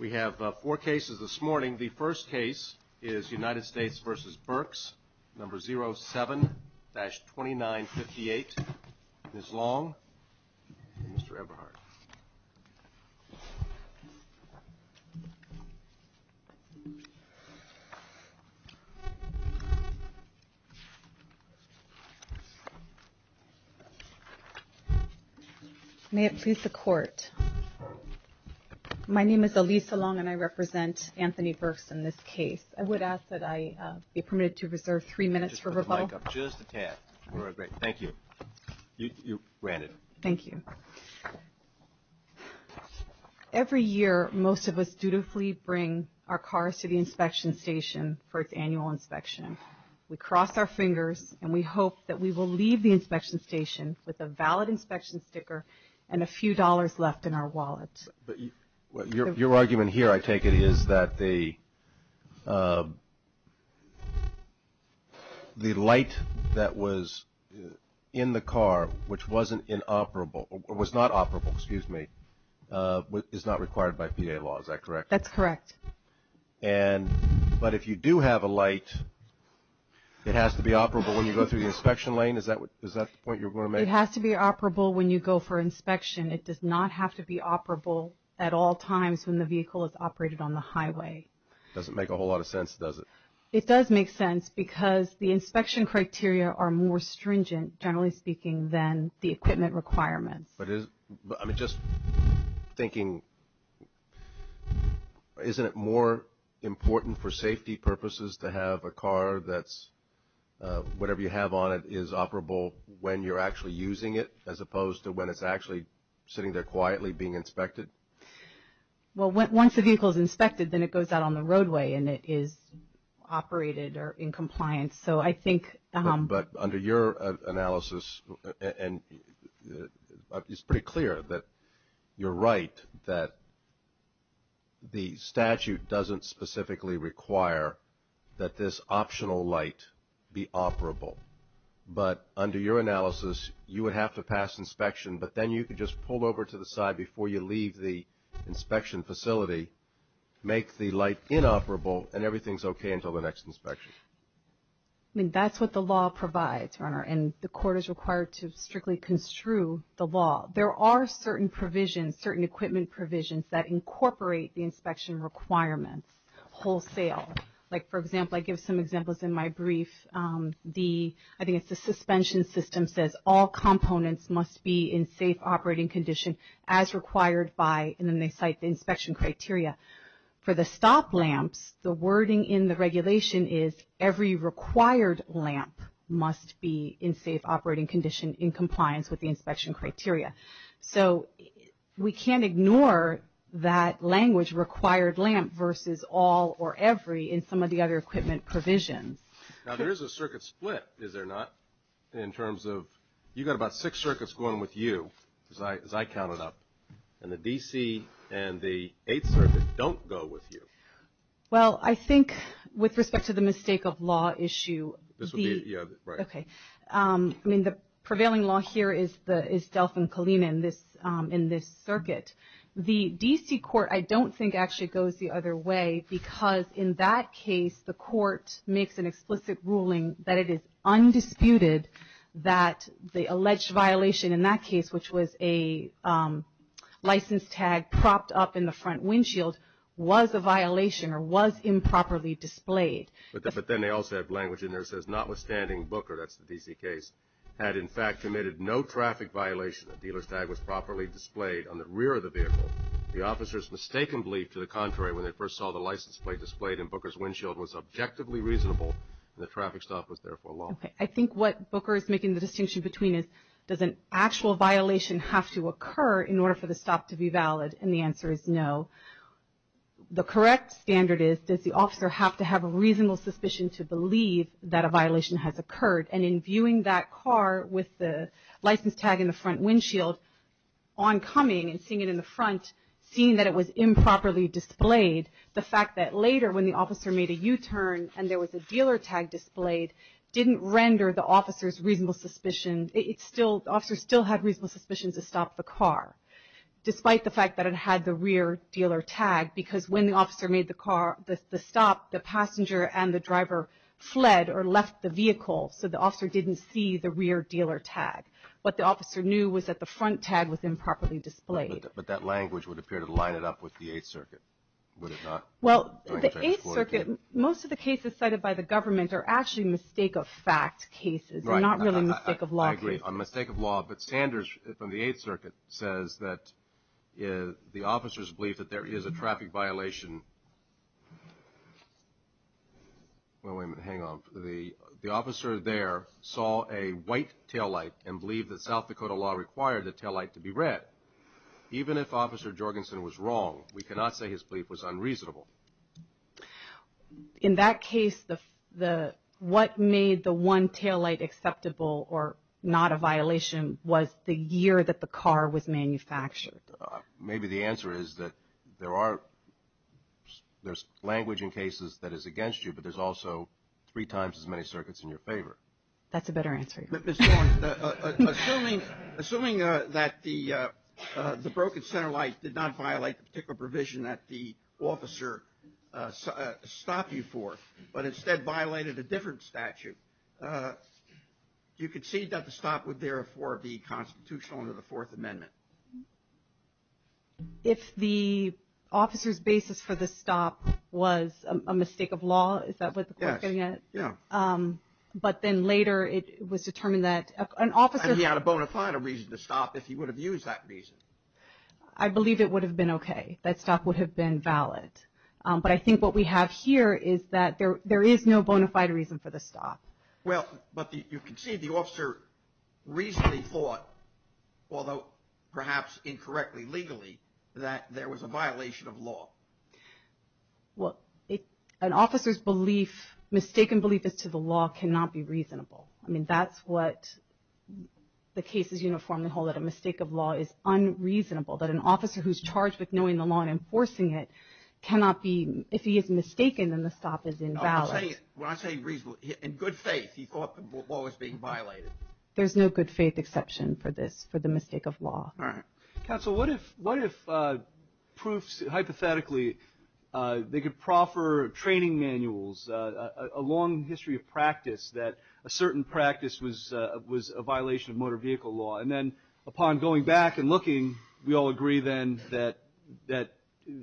07-2958, Ms. Long, and Mr. Eberhardt. May it please the Court. My name is Alisa Long and I represent Anthony Burks in this case. I would ask that I be permitted to reserve three minutes for rebuttal. Just a tad. Thank you. You're granted. Thank you. Every year most of us dutifully bring our cars to the inspection station for its annual inspection. We cross our fingers and we hope that we will leave the inspection station with a valid inspection sticker and a few dollars left in our wallet. Your argument here, I take it, is that the light that was in the car which was not operable is not required by PA law, is that correct? That's correct. But if you do have a light, it has to be operable when you go through the inspection lane? It has to be operable when you go for inspection. It does not have to be operable at all times when the vehicle is operated on the highway. It doesn't make a whole lot of sense, does it? It does make sense because the inspection criteria are more stringent, generally speaking, than the equipment requirements. But just thinking, isn't it more important for safety purposes to have a car that's whatever you have on it is operable when you're actually using it as opposed to when it's actually sitting there quietly being inspected? Well, once the vehicle is inspected, then it goes out on the roadway and it is operated or in compliance. So I think... But under your analysis, it's pretty clear that you're right that the statute doesn't specifically require that this optional light be operable. But under your analysis, you would have to pass inspection, but then you could just pull over to the side before you leave the inspection facility, make the light inoperable, and everything's okay until the next inspection. I mean, that's what the law provides, Your Honor. And the court is required to strictly construe the law. There are certain provisions, certain equipment provisions that incorporate the inspection requirements wholesale. Like, for example, I give some examples in my brief. I think it's the suspension system says all components must be in safe operating condition as required by, and then they cite the inspection criteria. For the stop lamps, the wording in the regulation is every required lamp must be in safe operating condition in compliance with the inspection criteria. So we can't ignore that language, required lamp, versus all or every in some of the other equipment provisions. Now, there is a circuit split, is there not, in terms of you've got about six circuits going with you, as I counted up. And the D.C. and the Eighth Circuit don't go with you. Well, I think with respect to the mistake of law issue, the prevailing law here is Delfin Kalina in this circuit. The D.C. court I don't think actually goes the other way because in that case the court makes an explicit ruling that it is undisputed that the alleged violation in that case, which was a license tag propped up in the front windshield, was a violation or was improperly displayed. But then they also have language in there that says notwithstanding, Booker, that's the D.C. case, had in fact committed no traffic violation. The dealer's tag was properly displayed on the rear of the vehicle. The officers mistakenly, to the contrary, when they first saw the license plate displayed in Booker's windshield was objectively reasonable and the traffic stop was therefore lawful. Okay. I think what Booker is making the distinction between is does an actual violation have to occur in order for the stop to be valid? And the answer is no. The correct standard is does the officer have to have a reasonable suspicion to believe that a oncoming and seeing it in the front, seeing that it was improperly displayed, the fact that later when the officer made a U-turn and there was a dealer tag displayed didn't render the officer's reasonable suspicion. The officer still had reasonable suspicions to stop the car despite the fact that it had the rear dealer tag because when the officer made the stop, the passenger and the driver fled or left the vehicle so the officer didn't see the rear dealer tag. What the officer knew was that the front tag was improperly displayed. But that language would appear to line it up with the Eighth Circuit, would it not? Well, the Eighth Circuit, most of the cases cited by the government are actually mistake-of-fact cases and not really mistake-of-law cases. I agree. On mistake-of-law, but Sanders from the Eighth Circuit says that the officers believe that there is a South Dakota law required the taillight to be red. Even if Officer Jorgensen was wrong, we cannot say his belief was unreasonable. In that case, what made the one taillight acceptable or not a violation was the year that the car was manufactured. Maybe the answer is that there's language in cases that is against you, but there's also three times as many circuits in your favor. That's a better answer. Ms. Dorn, assuming that the broken center light did not violate the particular provision that the officer stopped you for, but instead violated a different statute, do you concede that the stop would therefore be constitutional under the Fourth Amendment? If the officer's basis for the stop was a mistake of law, is that what the court's getting at? Yes. But then later it was determined that an officer... And he had a bona fide reason to stop if he would have used that reason. I believe it would have been okay. That stop would have been valid. But I think what we have here is that there is no bona fide reason for the stop. Well, but you can see the officer reasonably thought, although perhaps incorrectly legally, that there was a violation of law. Well, an officer's belief, mistaken belief as to the law, cannot be reasonable. I mean, that's what the case is uniformly held at. A mistake of law is unreasonable. That an officer who's charged with knowing the law and enforcing it cannot be... If he is mistaken, then the stop is invalid. When I say reasonable, in good faith he thought the law was being violated. There's no good faith exception for this, for the mistake of law. All right. Counsel, what if proofs, hypothetically, they could proffer training manuals, a long history of practice that a certain practice was a violation of motor vehicle law. And then upon going back and looking, we all agree then that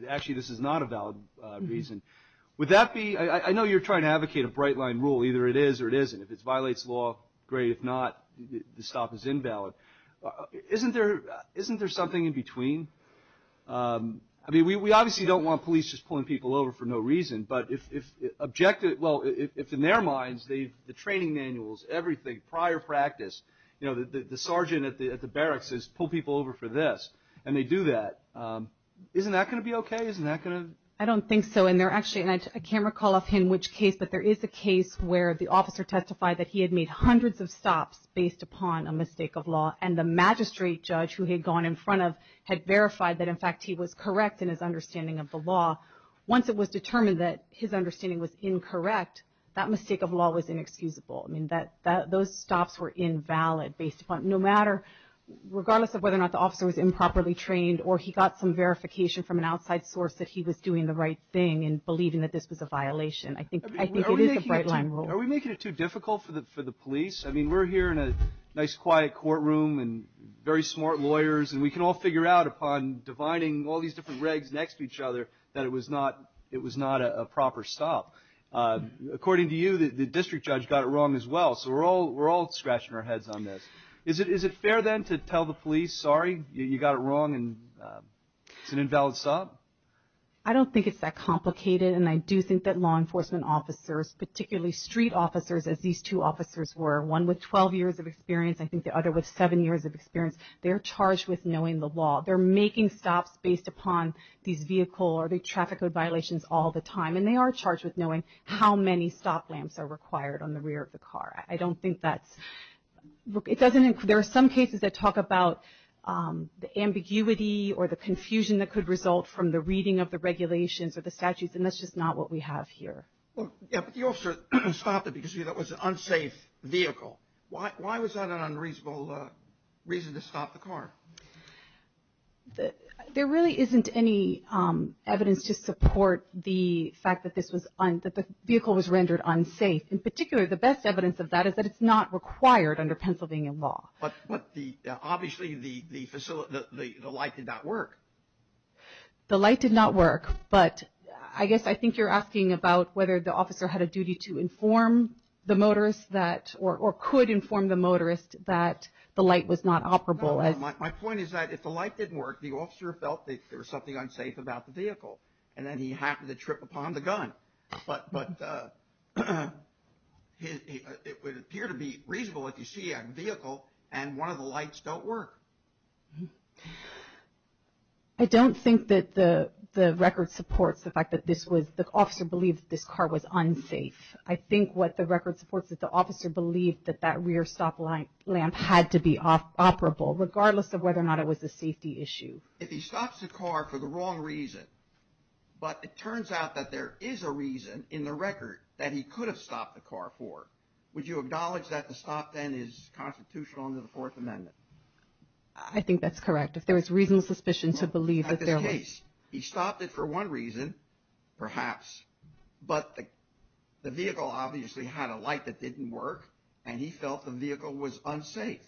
actually this is not a valid reason. Would that be... I know you're trying to advocate a bright line rule. Either it is or it isn't. If it violates law, great. If not, the stop is invalid. Isn't there something in between? I mean, we obviously don't want police just pulling people over for no reason. But if in their minds the training manuals, everything, prior practice, the sergeant at the barracks says pull people over for this, and they do that, isn't that going to be okay? Isn't that going to... I don't think so. And I can't recall offhand which case, but there is a case where the officer testified that he had made hundreds of stops based upon a mistake of law and the magistrate judge who he had gone in front of had verified that, in fact, he was correct in his understanding of the law. Once it was determined that his understanding was incorrect, that mistake of law was inexcusable. I mean, those stops were invalid based upon, no matter, regardless of whether or not the officer was improperly trained or he got some verification from an outside source that he was doing the right thing and believing that this was a violation. I think it is a bright line rule. Are we making it too difficult for the police? I mean, we're here in a nice quiet courtroom and very smart lawyers, and we can all figure out upon dividing all these different regs next to each other that it was not a proper stop. According to you, the district judge got it wrong as well, so we're all scratching our heads on this. Is it fair, then, to tell the police, sorry, you got it wrong and it's an invalid stop? I don't think it's that complicated, and I do think that law enforcement officers, particularly street officers, as these two officers were, one with 12 years of experience, I think the other with seven years of experience, they're charged with knowing the law. They're making stops based upon these vehicle or the traffic code violations all the time, and they are charged with knowing how many stop lamps are required on the rear of the car. I don't think that's – there are some cases that talk about the ambiguity or the confusion that could result from the reading of the regulations or the statutes, and that's just not what we have here. Well, yeah, but the officer stopped it because it was an unsafe vehicle. Why was that an unreasonable reason to stop the car? There really isn't any evidence to support the fact that the vehicle was rendered unsafe. In particular, the best evidence of that is that it's not required under Pennsylvania law. But obviously the light did not work. The light did not work. But I guess I think you're asking about whether the officer had a duty to inform the motorist or could inform the motorist that the light was not operable. No, my point is that if the light didn't work, the officer felt that there was something unsafe about the vehicle, and then he happened to trip upon the gun. But it would appear to be reasonable if you see a vehicle and one of the lights don't work. I don't think that the record supports the fact that the officer believed that this car was unsafe. I think what the record supports is that the officer believed that that rear stop lamp had to be operable, regardless of whether or not it was a safety issue. If he stops the car for the wrong reason, but it turns out that there is a reason in the record that he could have stopped the car for, would you acknowledge that the stop then is constitutional under the Fourth Amendment? I think that's correct. If there was reasonable suspicion to believe that there was. At this case, he stopped it for one reason, perhaps, but the vehicle obviously had a light that didn't work, and he felt the vehicle was unsafe.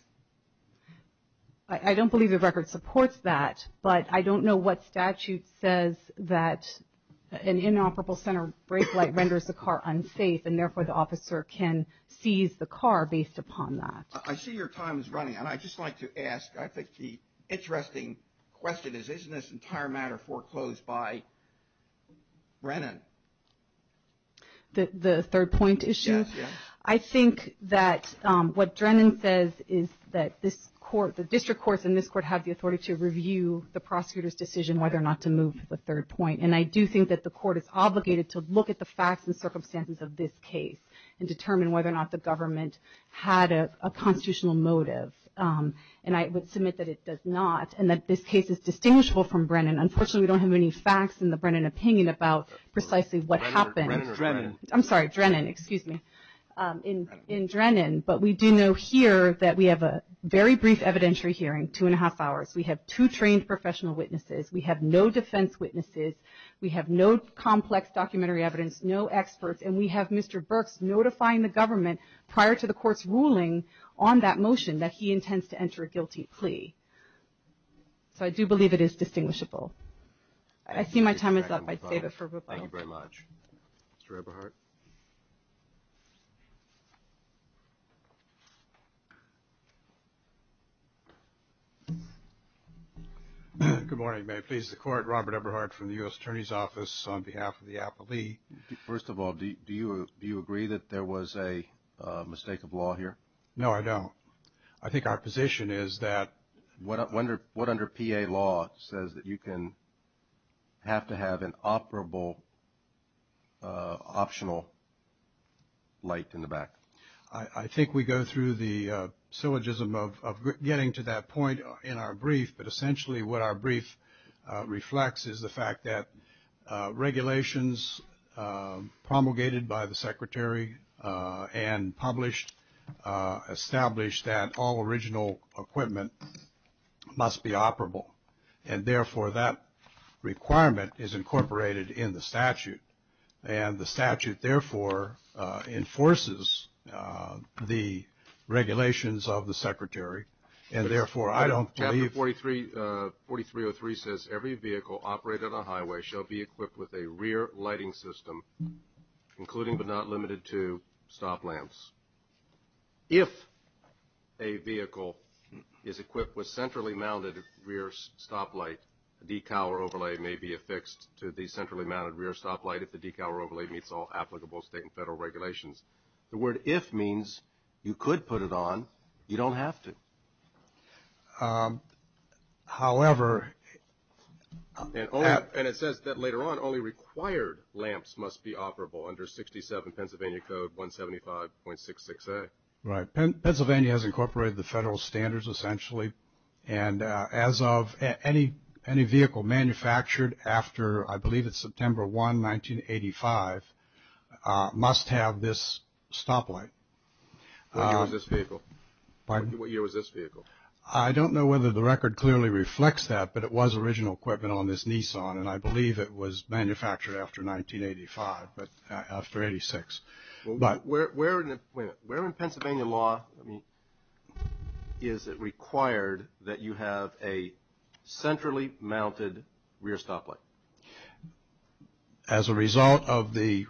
I don't believe the record supports that, but I don't know what statute says that an inoperable center brake light renders the car unsafe, and therefore the officer can seize the car based upon that. I see your time is running, and I'd just like to ask, I think the interesting question is isn't this entire matter foreclosed by Brennan? The third point issue? Yes, yes. I think that what Brennan says is that this court, the district courts in this court have the authority to review the prosecutor's decision whether or not to move to the third point, and I do think that the court is obligated to look at the facts and circumstances of this case and determine whether or not the government had a constitutional motive, and I would submit that it does not, and that this case is distinguishable from Brennan. Unfortunately, we don't have any facts in the Brennan opinion about precisely what happened. Drennan. I'm sorry, Drennan, excuse me, in Drennan, but we do know here that we have a very brief evidentiary hearing, two and a half hours. We have two trained professional witnesses. We have no defense witnesses. We have no complex documentary evidence, no experts, and we have Mr. Burks notifying the government prior to the court's ruling on that motion that he intends to enter a guilty plea. So I do believe it is distinguishable. I see my time is up. I'd save it for rebuttal. Thank you very much. Mr. Eberhardt. Good morning. May it please the Court, Robert Eberhardt from the U.S. Attorney's Office. On behalf of the appellee. First of all, do you agree that there was a mistake of law here? No, I don't. I think our position is that. What under PA law says that you can have to have an operable optional light in the back? I think we go through the syllogism of getting to that point in our brief, but essentially what our brief reflects is the fact that regulations promulgated by the Secretary and published established that all original equipment must be operable, and therefore that requirement is incorporated in the statute, and the statute therefore enforces the regulations of the Secretary, and therefore I don't believe. Chapter 4303 says every vehicle operated on a highway shall be equipped with a rear lighting system, including but not limited to stop lamps. If a vehicle is equipped with centrally mounted rear stop light, a decal or overlay may be affixed to the centrally mounted rear stop light if the decal or overlay meets all applicable state and federal regulations. The word if means you could put it on. You don't have to. However. And it says that later on only required lamps must be operable under 67 Pennsylvania Code 175.66a. Right. Pennsylvania has incorporated the federal standards essentially, and as of any vehicle manufactured after I believe it's September 1, 1985, must have this stop light. What year was this vehicle? Pardon? What year was this vehicle? I don't know whether the record clearly reflects that, but it was original equipment on this Nissan, and I believe it was manufactured after 1985, but after 86. Where in Pennsylvania law is it required that you have a centrally mounted rear stop light? As a result of the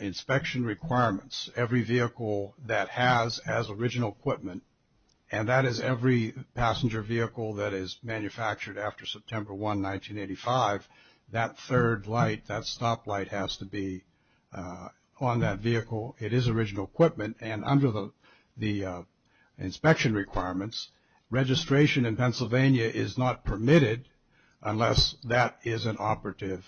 inspection requirements, every vehicle that has as original equipment, and that is every passenger vehicle that is manufactured after September 1, 1985, that third light, that stop light has to be on that vehicle. It is original equipment, and under the inspection requirements, registration in Pennsylvania is not permitted unless that is an operative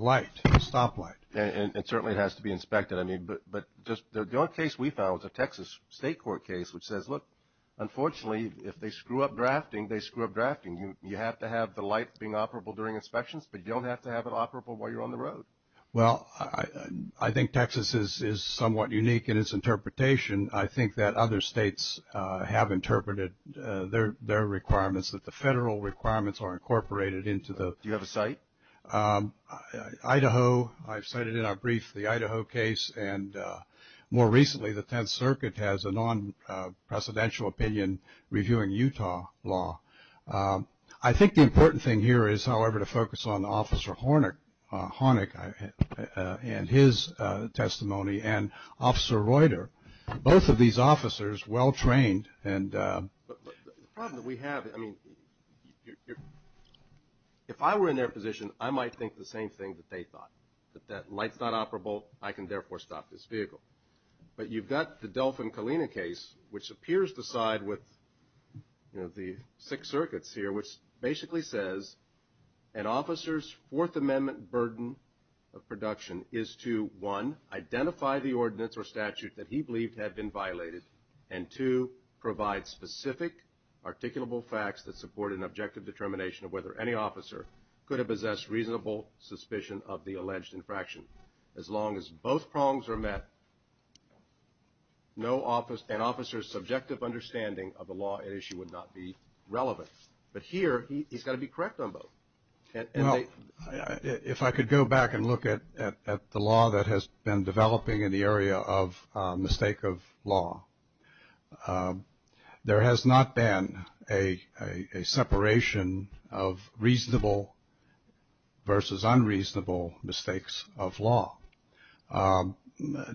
light, a stop light. And certainly it has to be inspected. But the only case we found was a Texas state court case which says, look, unfortunately, if they screw up drafting, they screw up drafting. You have to have the light being operable during inspections, but you don't have to have it operable while you're on the road. Well, I think Texas is somewhat unique in its interpretation. I think that other states have interpreted their requirements, that the federal requirements are incorporated into the. Do you have a site? Idaho. I've cited in our brief the Idaho case, and more recently the Tenth Circuit has a non-presidential opinion reviewing Utah law. I think the important thing here is, however, to focus on Officer Hornick and his testimony and Officer Reuter. Both of these officers, well-trained and. The problem that we have, I mean, if I were in their position, I might think the same thing that they thought, that light's not operable, I can therefore stop this vehicle. But you've got the Delfin Kalina case, which appears to side with, you know, the Sixth Circuit's here, which basically says, an officer's Fourth Amendment burden of production is to, one, identify the ordinance or statute that he believed had been violated, and two, provide specific articulable facts that support an objective determination of whether any officer could have possessed reasonable suspicion of the alleged infraction. As long as both prongs are met, an officer's subjective understanding of the law at issue would not be relevant. But here, he's got to be correct on both. Well, if I could go back and look at the law that has been developing in the area of mistake of law, there has not been a separation of reasonable versus unreasonable mistakes of law.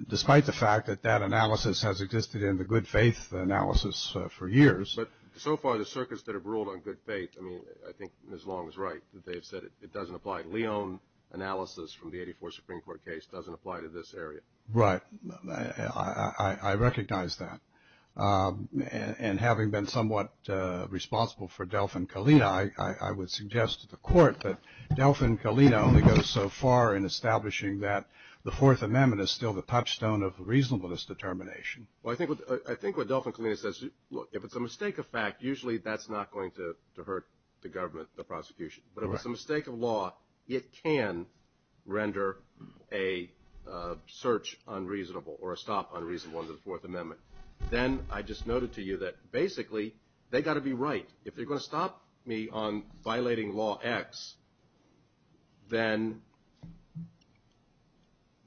Despite the fact that that analysis has existed in the good faith analysis for years. But so far, the circuits that have ruled on good faith, I mean, I think Ms. Long is right that they've said it doesn't apply. Leon analysis from the 84th Supreme Court case doesn't apply to this area. Right. I recognize that. And having been somewhat responsible for Delfin Kalina, I would suggest to the court that Delfin Kalina only goes so far in establishing that the Fourth Amendment is still the touchstone of reasonableness determination. Well, I think what Delfin Kalina says, look, if it's a mistake of fact, usually that's not going to hurt the government, the prosecution. But if it's a mistake of law, it can render a search unreasonable or a stop unreasonable under the Fourth Amendment. Then I just noted to you that basically, they've got to be right. If they're going to stop me on violating Law X, then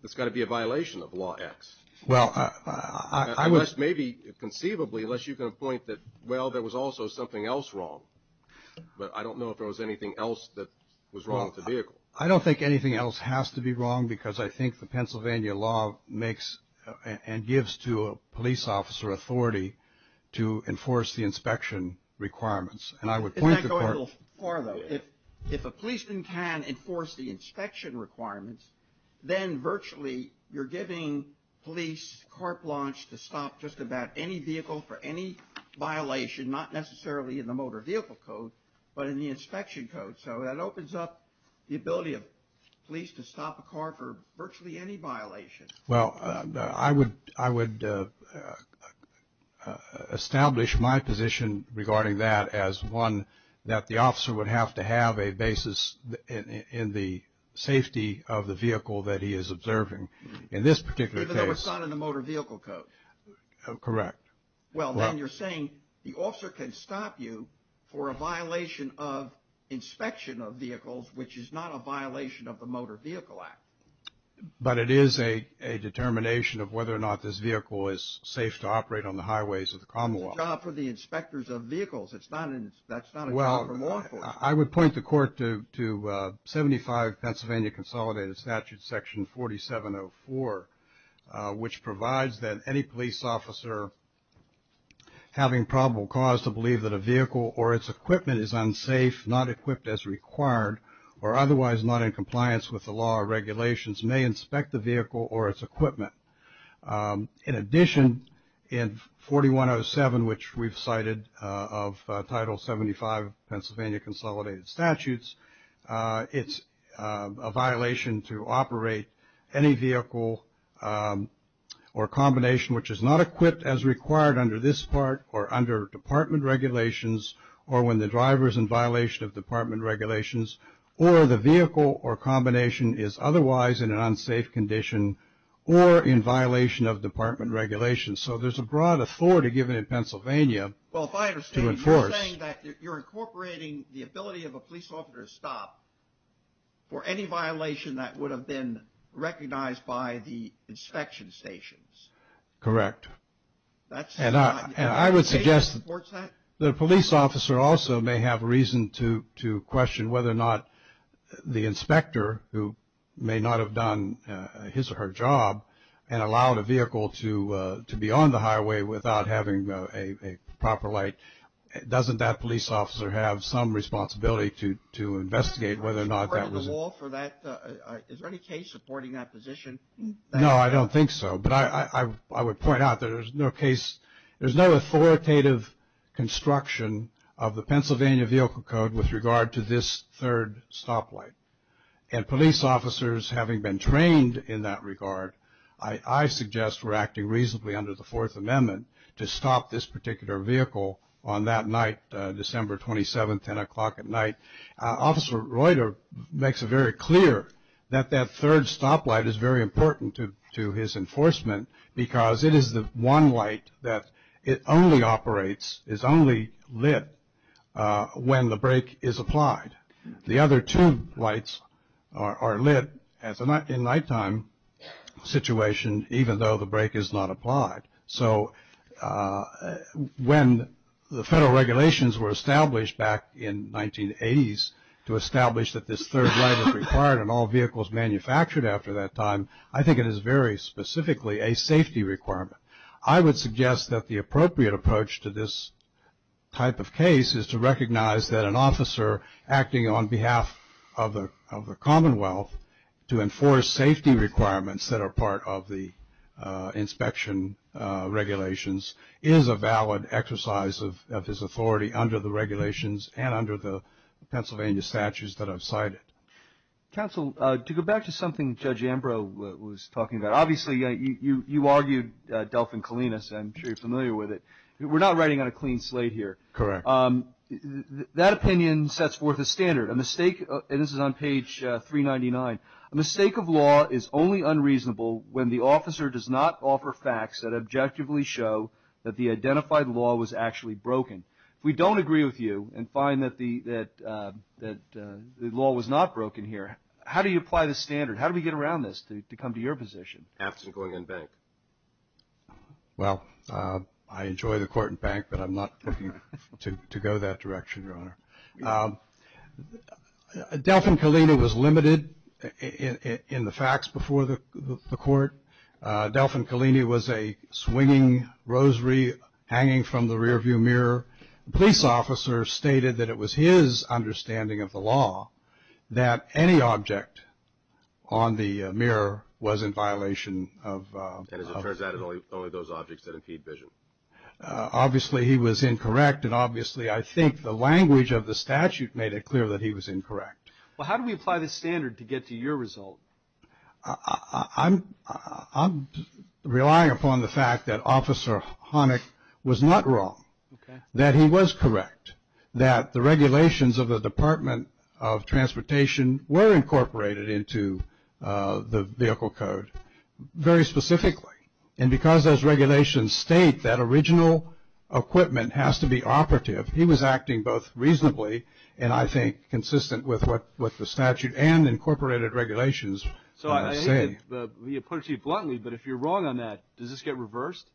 it's got to be a violation of Law X. Well, I would. Unless maybe conceivably, unless you can point that, well, there was also something else wrong. But I don't know if there was anything else that was wrong with the vehicle. I don't think anything else has to be wrong because I think the Pennsylvania law makes and gives to a police officer authority to enforce the inspection requirements. And I would point to court. Isn't that going a little far, though? If a policeman can enforce the inspection requirements, then virtually you're giving police car plunge to stop just about any vehicle for any violation, not necessarily in the motor vehicle code, but in the inspection code. So that opens up the ability of police to stop a car for virtually any violation. Well, I would establish my position regarding that as one that the officer would have to have a basis in the safety of the vehicle that he is observing. In this particular case. Even though it's not in the motor vehicle code. Correct. Well, then you're saying the officer can stop you for a violation of inspection of vehicles, which is not a violation of the Motor Vehicle Act. But it is a determination of whether or not this vehicle is safe to operate on the highways of the Commonwealth. It's a job for the inspectors of vehicles. That's not a job for law enforcement. Well, I would point the court to 75 Pennsylvania Consolidated Statute Section 4704, which provides that any police officer having probable cause to believe that a vehicle or its equipment is unsafe, not equipped as required, or otherwise not in compliance with the law or regulations may inspect the vehicle or its equipment. In addition, in 4107, which we've cited of Title 75 Pennsylvania Consolidated Statutes, it's a violation to operate any vehicle or combination which is not equipped as required under this part or under department regulations or when the driver is in violation of department regulations or the vehicle or combination is otherwise in an unsafe condition or in violation of department regulations. So there's a broad authority given in Pennsylvania to enforce. Well, if I understand, you're saying that you're incorporating the ability of a police officer to stop for any violation that would have been recognized by the inspection stations. Correct. And I would suggest that a police officer also may have reason to question whether or not the inspector who may not have done his or her job and allowed a vehicle to be on the highway without having a proper light, doesn't that police officer have some responsibility to investigate whether or not that was? Is there any case supporting that position? No, I don't think so. But I would point out that there's no case. There's no authoritative construction of the Pennsylvania Vehicle Code with regard to this third stoplight. And police officers, having been trained in that regard, I suggest we're acting reasonably under the Fourth Amendment to stop this particular vehicle on that night, December 27th, 10 o'clock at night. Officer Reuter makes it very clear that that third stoplight is very important to his enforcement because it is the one light that only operates, is only lit when the brake is applied. The other two lights are lit in nighttime situation even though the brake is not applied. So when the federal regulations were established back in 1980s to establish that this third light is required and all vehicles manufactured after that time, I think it is very specifically a safety requirement. I would suggest that the appropriate approach to this type of case is to recognize that an officer acting on behalf of the regulations is a valid exercise of his authority under the regulations and under the Pennsylvania statutes that I've cited. Counsel, to go back to something Judge Ambrose was talking about, obviously you argued Delfin Kalinas, I'm sure you're familiar with it. We're not writing on a clean slate here. Correct. That opinion sets forth a standard. A mistake, and this is on page 399, a mistake of law is only unreasonable when the officer does not offer facts that objectively show that the identified law was actually broken. If we don't agree with you and find that the law was not broken here, how do you apply the standard? How do we get around this to come to your position? After going in bank. Well, I enjoy the court in bank, but I'm not looking to go that direction, Your Honor. Delfin Kalina was limited in the facts before the court. Delfin Kalina was a swinging rosary hanging from the rearview mirror. The police officer stated that it was his understanding of the law that any object on the mirror was in violation of. And as it turns out, it's only those objects that impede vision. Obviously he was incorrect, and obviously I think the language of the statute made it clear that he was incorrect. Well, how do we apply the standard to get to your result? I'm relying upon the fact that Officer Honick was not wrong, that he was correct, that the regulations of the Department of Transportation were incorporated into the Vehicle Code very specifically. And because those regulations state that original equipment has to be operative, he was acting both reasonably and I think consistent with what the statute and incorporated regulations say. So I hate to put it to you bluntly, but if you're wrong on that, does this get reversed?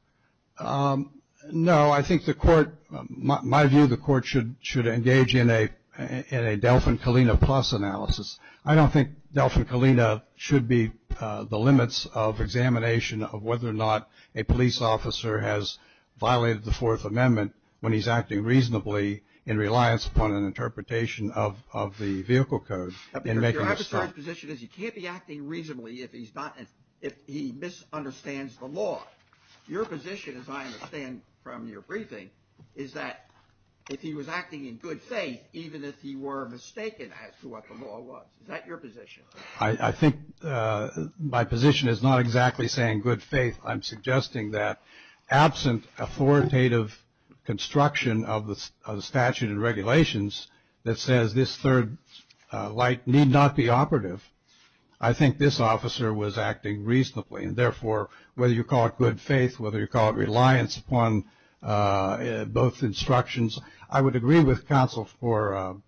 No. I think the court, my view, the court should engage in a Delfin Kalina plus analysis. I don't think Delfin Kalina should be the limits of examination of whether or not a police officer has violated the Fourth Amendment when he's acting reasonably in reliance upon an interpretation of the Vehicle Code in making a stop. But your adversary's position is he can't be acting reasonably if he's not, if he misunderstands the law. Your position, as I understand from your briefing, is that if he was acting in good faith, even if he were mistaken as to what the law was, is that your position? I think my position is not exactly saying good faith. I'm suggesting that absent authoritative construction of the statute and regulations that says this third light need not be operative, I think this officer was acting reasonably. And therefore, whether you call it good faith, whether you call it reliance upon both instructions, I would agree with counsel for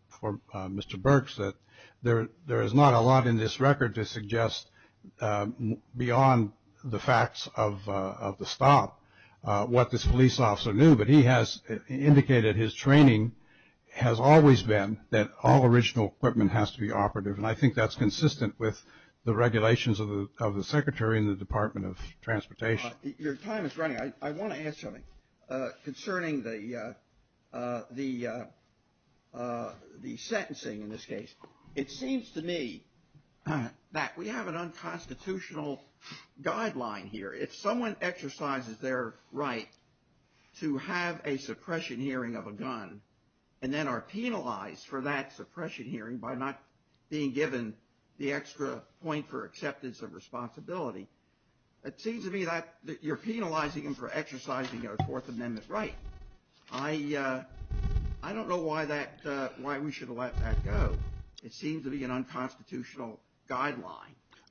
Mr. Burks that there is not a lot in this record to suggest beyond the facts of the stop what this police officer knew. But he has indicated his training has always been that all original equipment has to be operative. And I think that's consistent with the regulations of the Secretary and the Department of Transportation. Your time is running. I want to ask something concerning the sentencing in this case. It seems to me that we have an unconstitutional guideline here. If someone exercises their right to have a suppression hearing of a gun and then are penalized for that suppression hearing by not being given the extra point for acceptance of responsibility, it seems to me that you're penalizing them for exercising their Fourth Amendment right. I don't know why we should let that go. It seems to be an unconstitutional guideline.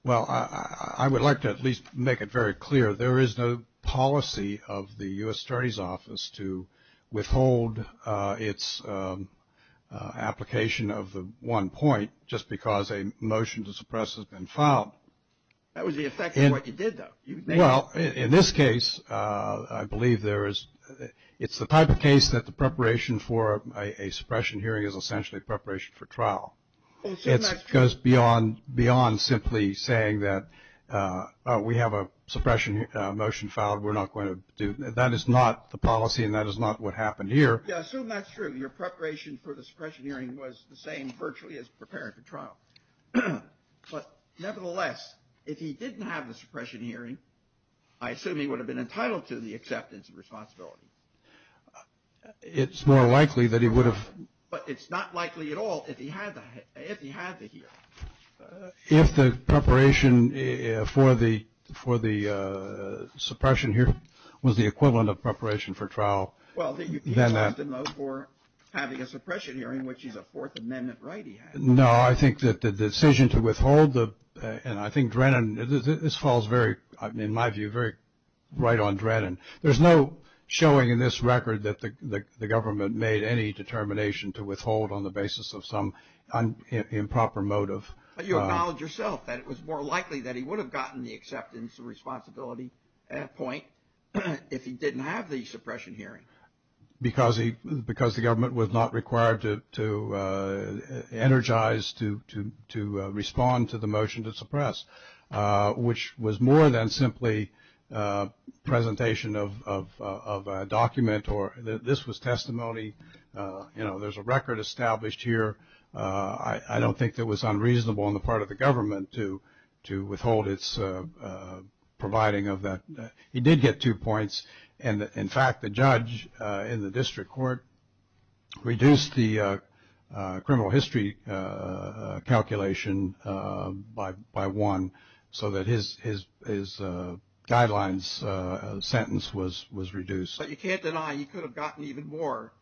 Well, I would like to at least make it very clear there is no policy of the U.S. Attorney's Office to withhold its application of the one point just because a motion to suppress has been filed. That was the effect of what you did, though. Well, in this case, I believe it's the type of case that the preparation for a suppression hearing is essentially preparation for trial. It goes beyond simply saying that we have a suppression motion filed. We're not going to do that. That is not the policy and that is not what happened here. Yeah, I assume that's true. Your preparation for the suppression hearing was the same virtually as preparing for trial. But nevertheless, if he didn't have the suppression hearing, I assume he would have been entitled to the acceptance of responsibility. It's more likely that he would have. But it's not likely at all if he had the hearing. If the preparation for the suppression hearing was the equivalent of preparation for trial. Well, you can charge him, though, for having a suppression hearing, which is a Fourth Amendment right he had. No, I think that the decision to withhold the and I think Drennan, this falls very, in my view, very right on Drennan. There's no showing in this record that the government made any determination to withhold on the basis of some improper motive. But you acknowledge yourself that it was more likely that he would have gotten the acceptance of responsibility at that point if he didn't have the suppression hearing. Because the government was not required to energize, to respond to the motion to suppress, which was more than simply presentation of a document or this was testimony. You know, there's a record established here. I don't think that was unreasonable on the part of the government to withhold its providing of that. He did get two points. And, in fact, the judge in the district court reduced the criminal history calculation by one so that his guidelines sentence was reduced. But you can't deny he could have gotten even more.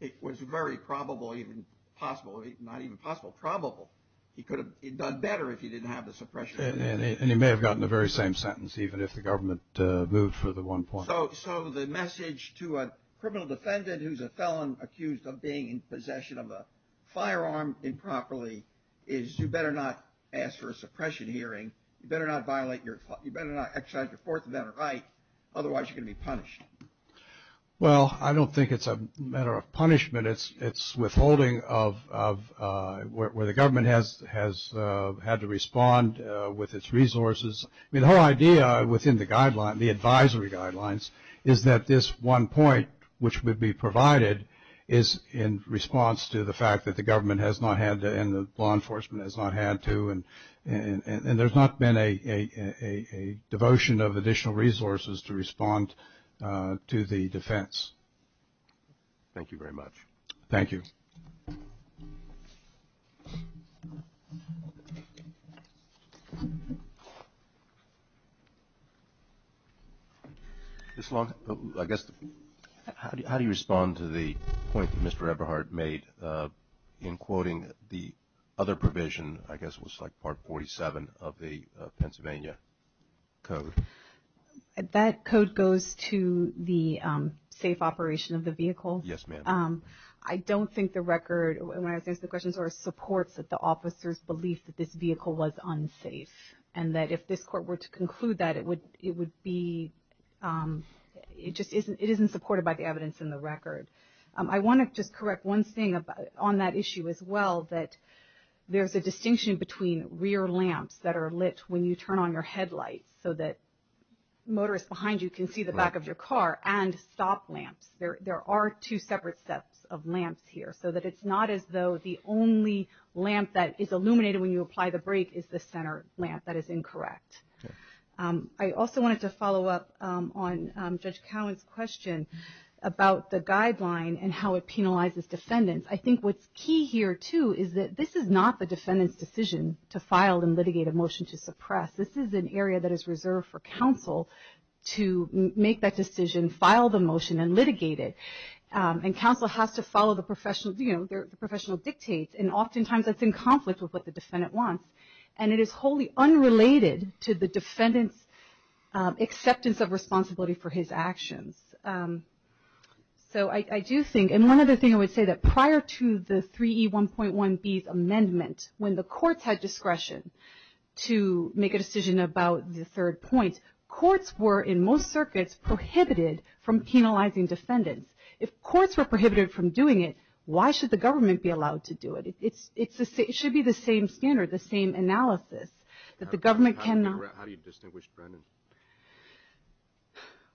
It was very probable, even possible, not even possible, probable. He could have done better if he didn't have the suppression hearing. And he may have gotten the very same sentence, even if the government moved for the one point. So the message to a criminal defendant who's a felon accused of being in possession of a firearm improperly is you better not ask for a suppression hearing. You better not violate your, you better not exercise your Fourth Amendment right, otherwise you're going to be punished. Well, I don't think it's a matter of punishment. It's withholding of where the government has had to respond with its resources. I mean, the whole idea within the guideline, the advisory guidelines, is that this one point, which would be provided is in response to the fact that the government has not had to and the law enforcement has not had to and there's not been a devotion of additional resources to respond to the defense. Thank you very much. Thank you. Ms. Long, I guess, how do you respond to the point that Mr. Eberhardt made in quoting the other provision, I guess it was like Part 47 of the Pennsylvania Code? That code goes to the safe operation of the vehicle. Yes, ma'am. I don't think the record, when I was answering the questions, supports that the officers believed that this vehicle was unsafe and that if this court were to conclude that, it would be, it just isn't supported by the evidence in the record. I want to just correct one thing on that issue as well, that there's a distinction between rear lamps that are lit when you turn on your headlights so that motorists behind you can see the back of your car and stop lamps. There are two separate sets of lamps here, so that it's not as though the only lamp that is illuminated when you apply the brake is the center lamp. That is incorrect. I also wanted to follow up on Judge Cowan's question about the guideline and how it penalizes defendants. I think what's key here, too, is that this is not the defendant's decision to file and litigate a motion to suppress. This is an area that is reserved for counsel to make that decision, file the motion, and litigate it. And counsel has to follow the professional dictates, and oftentimes that's in conflict with what the defendant wants. And it is wholly unrelated to the defendant's acceptance of responsibility for his actions. So I do think, and one other thing I would say, that prior to the 3E1.1b's amendment, when the courts had discretion to make a decision about the third point, courts were, in most circuits, prohibited from penalizing defendants. If courts were prohibited from doing it, why should the government be allowed to do it? It should be the same standard, the same analysis. How do you distinguish Drennan?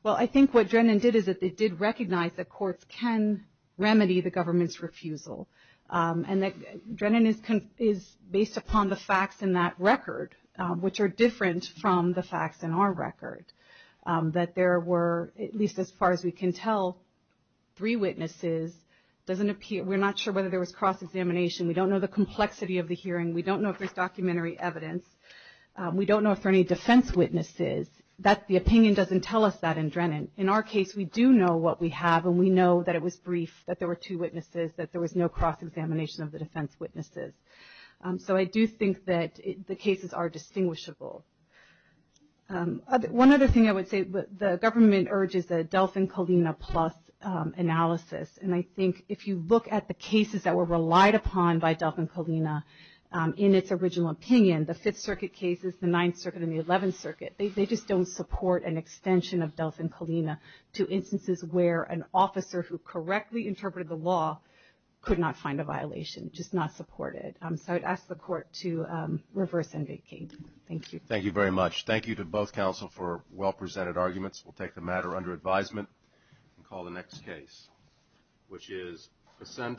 Well, I think what Drennan did is that they did recognize that courts can remedy the government's refusal. And Drennan is based upon the facts in that record, which are different from the facts in our record. That there were, at least as far as we can tell, three witnesses. We're not sure whether there was cross-examination. We don't know the complexity of the hearing. We don't know if there's documentary evidence. We don't know if there are any defense witnesses. The opinion doesn't tell us that in Drennan. In our case, we do know what we have, and we know that it was brief, that there were two witnesses, that there was no cross-examination of the defense witnesses. So I do think that the cases are distinguishable. One other thing I would say, the government urges a Delfin-Kalina Plus analysis. And I think if you look at the cases that were relied upon by Delfin-Kalina in its original opinion, the Fifth Circuit cases, the Ninth Circuit, and the Eleventh Circuit, they just don't support an extension of Delfin-Kalina to instances where an officer who correctly interpreted the law could not find a violation, just not support it. So I'd ask the Court to reverse and vacate. Thank you. Thank you very much. Thank you to both counsel for well-presented arguments. We'll take the matter under advisement and call the next case, which is Ascendant.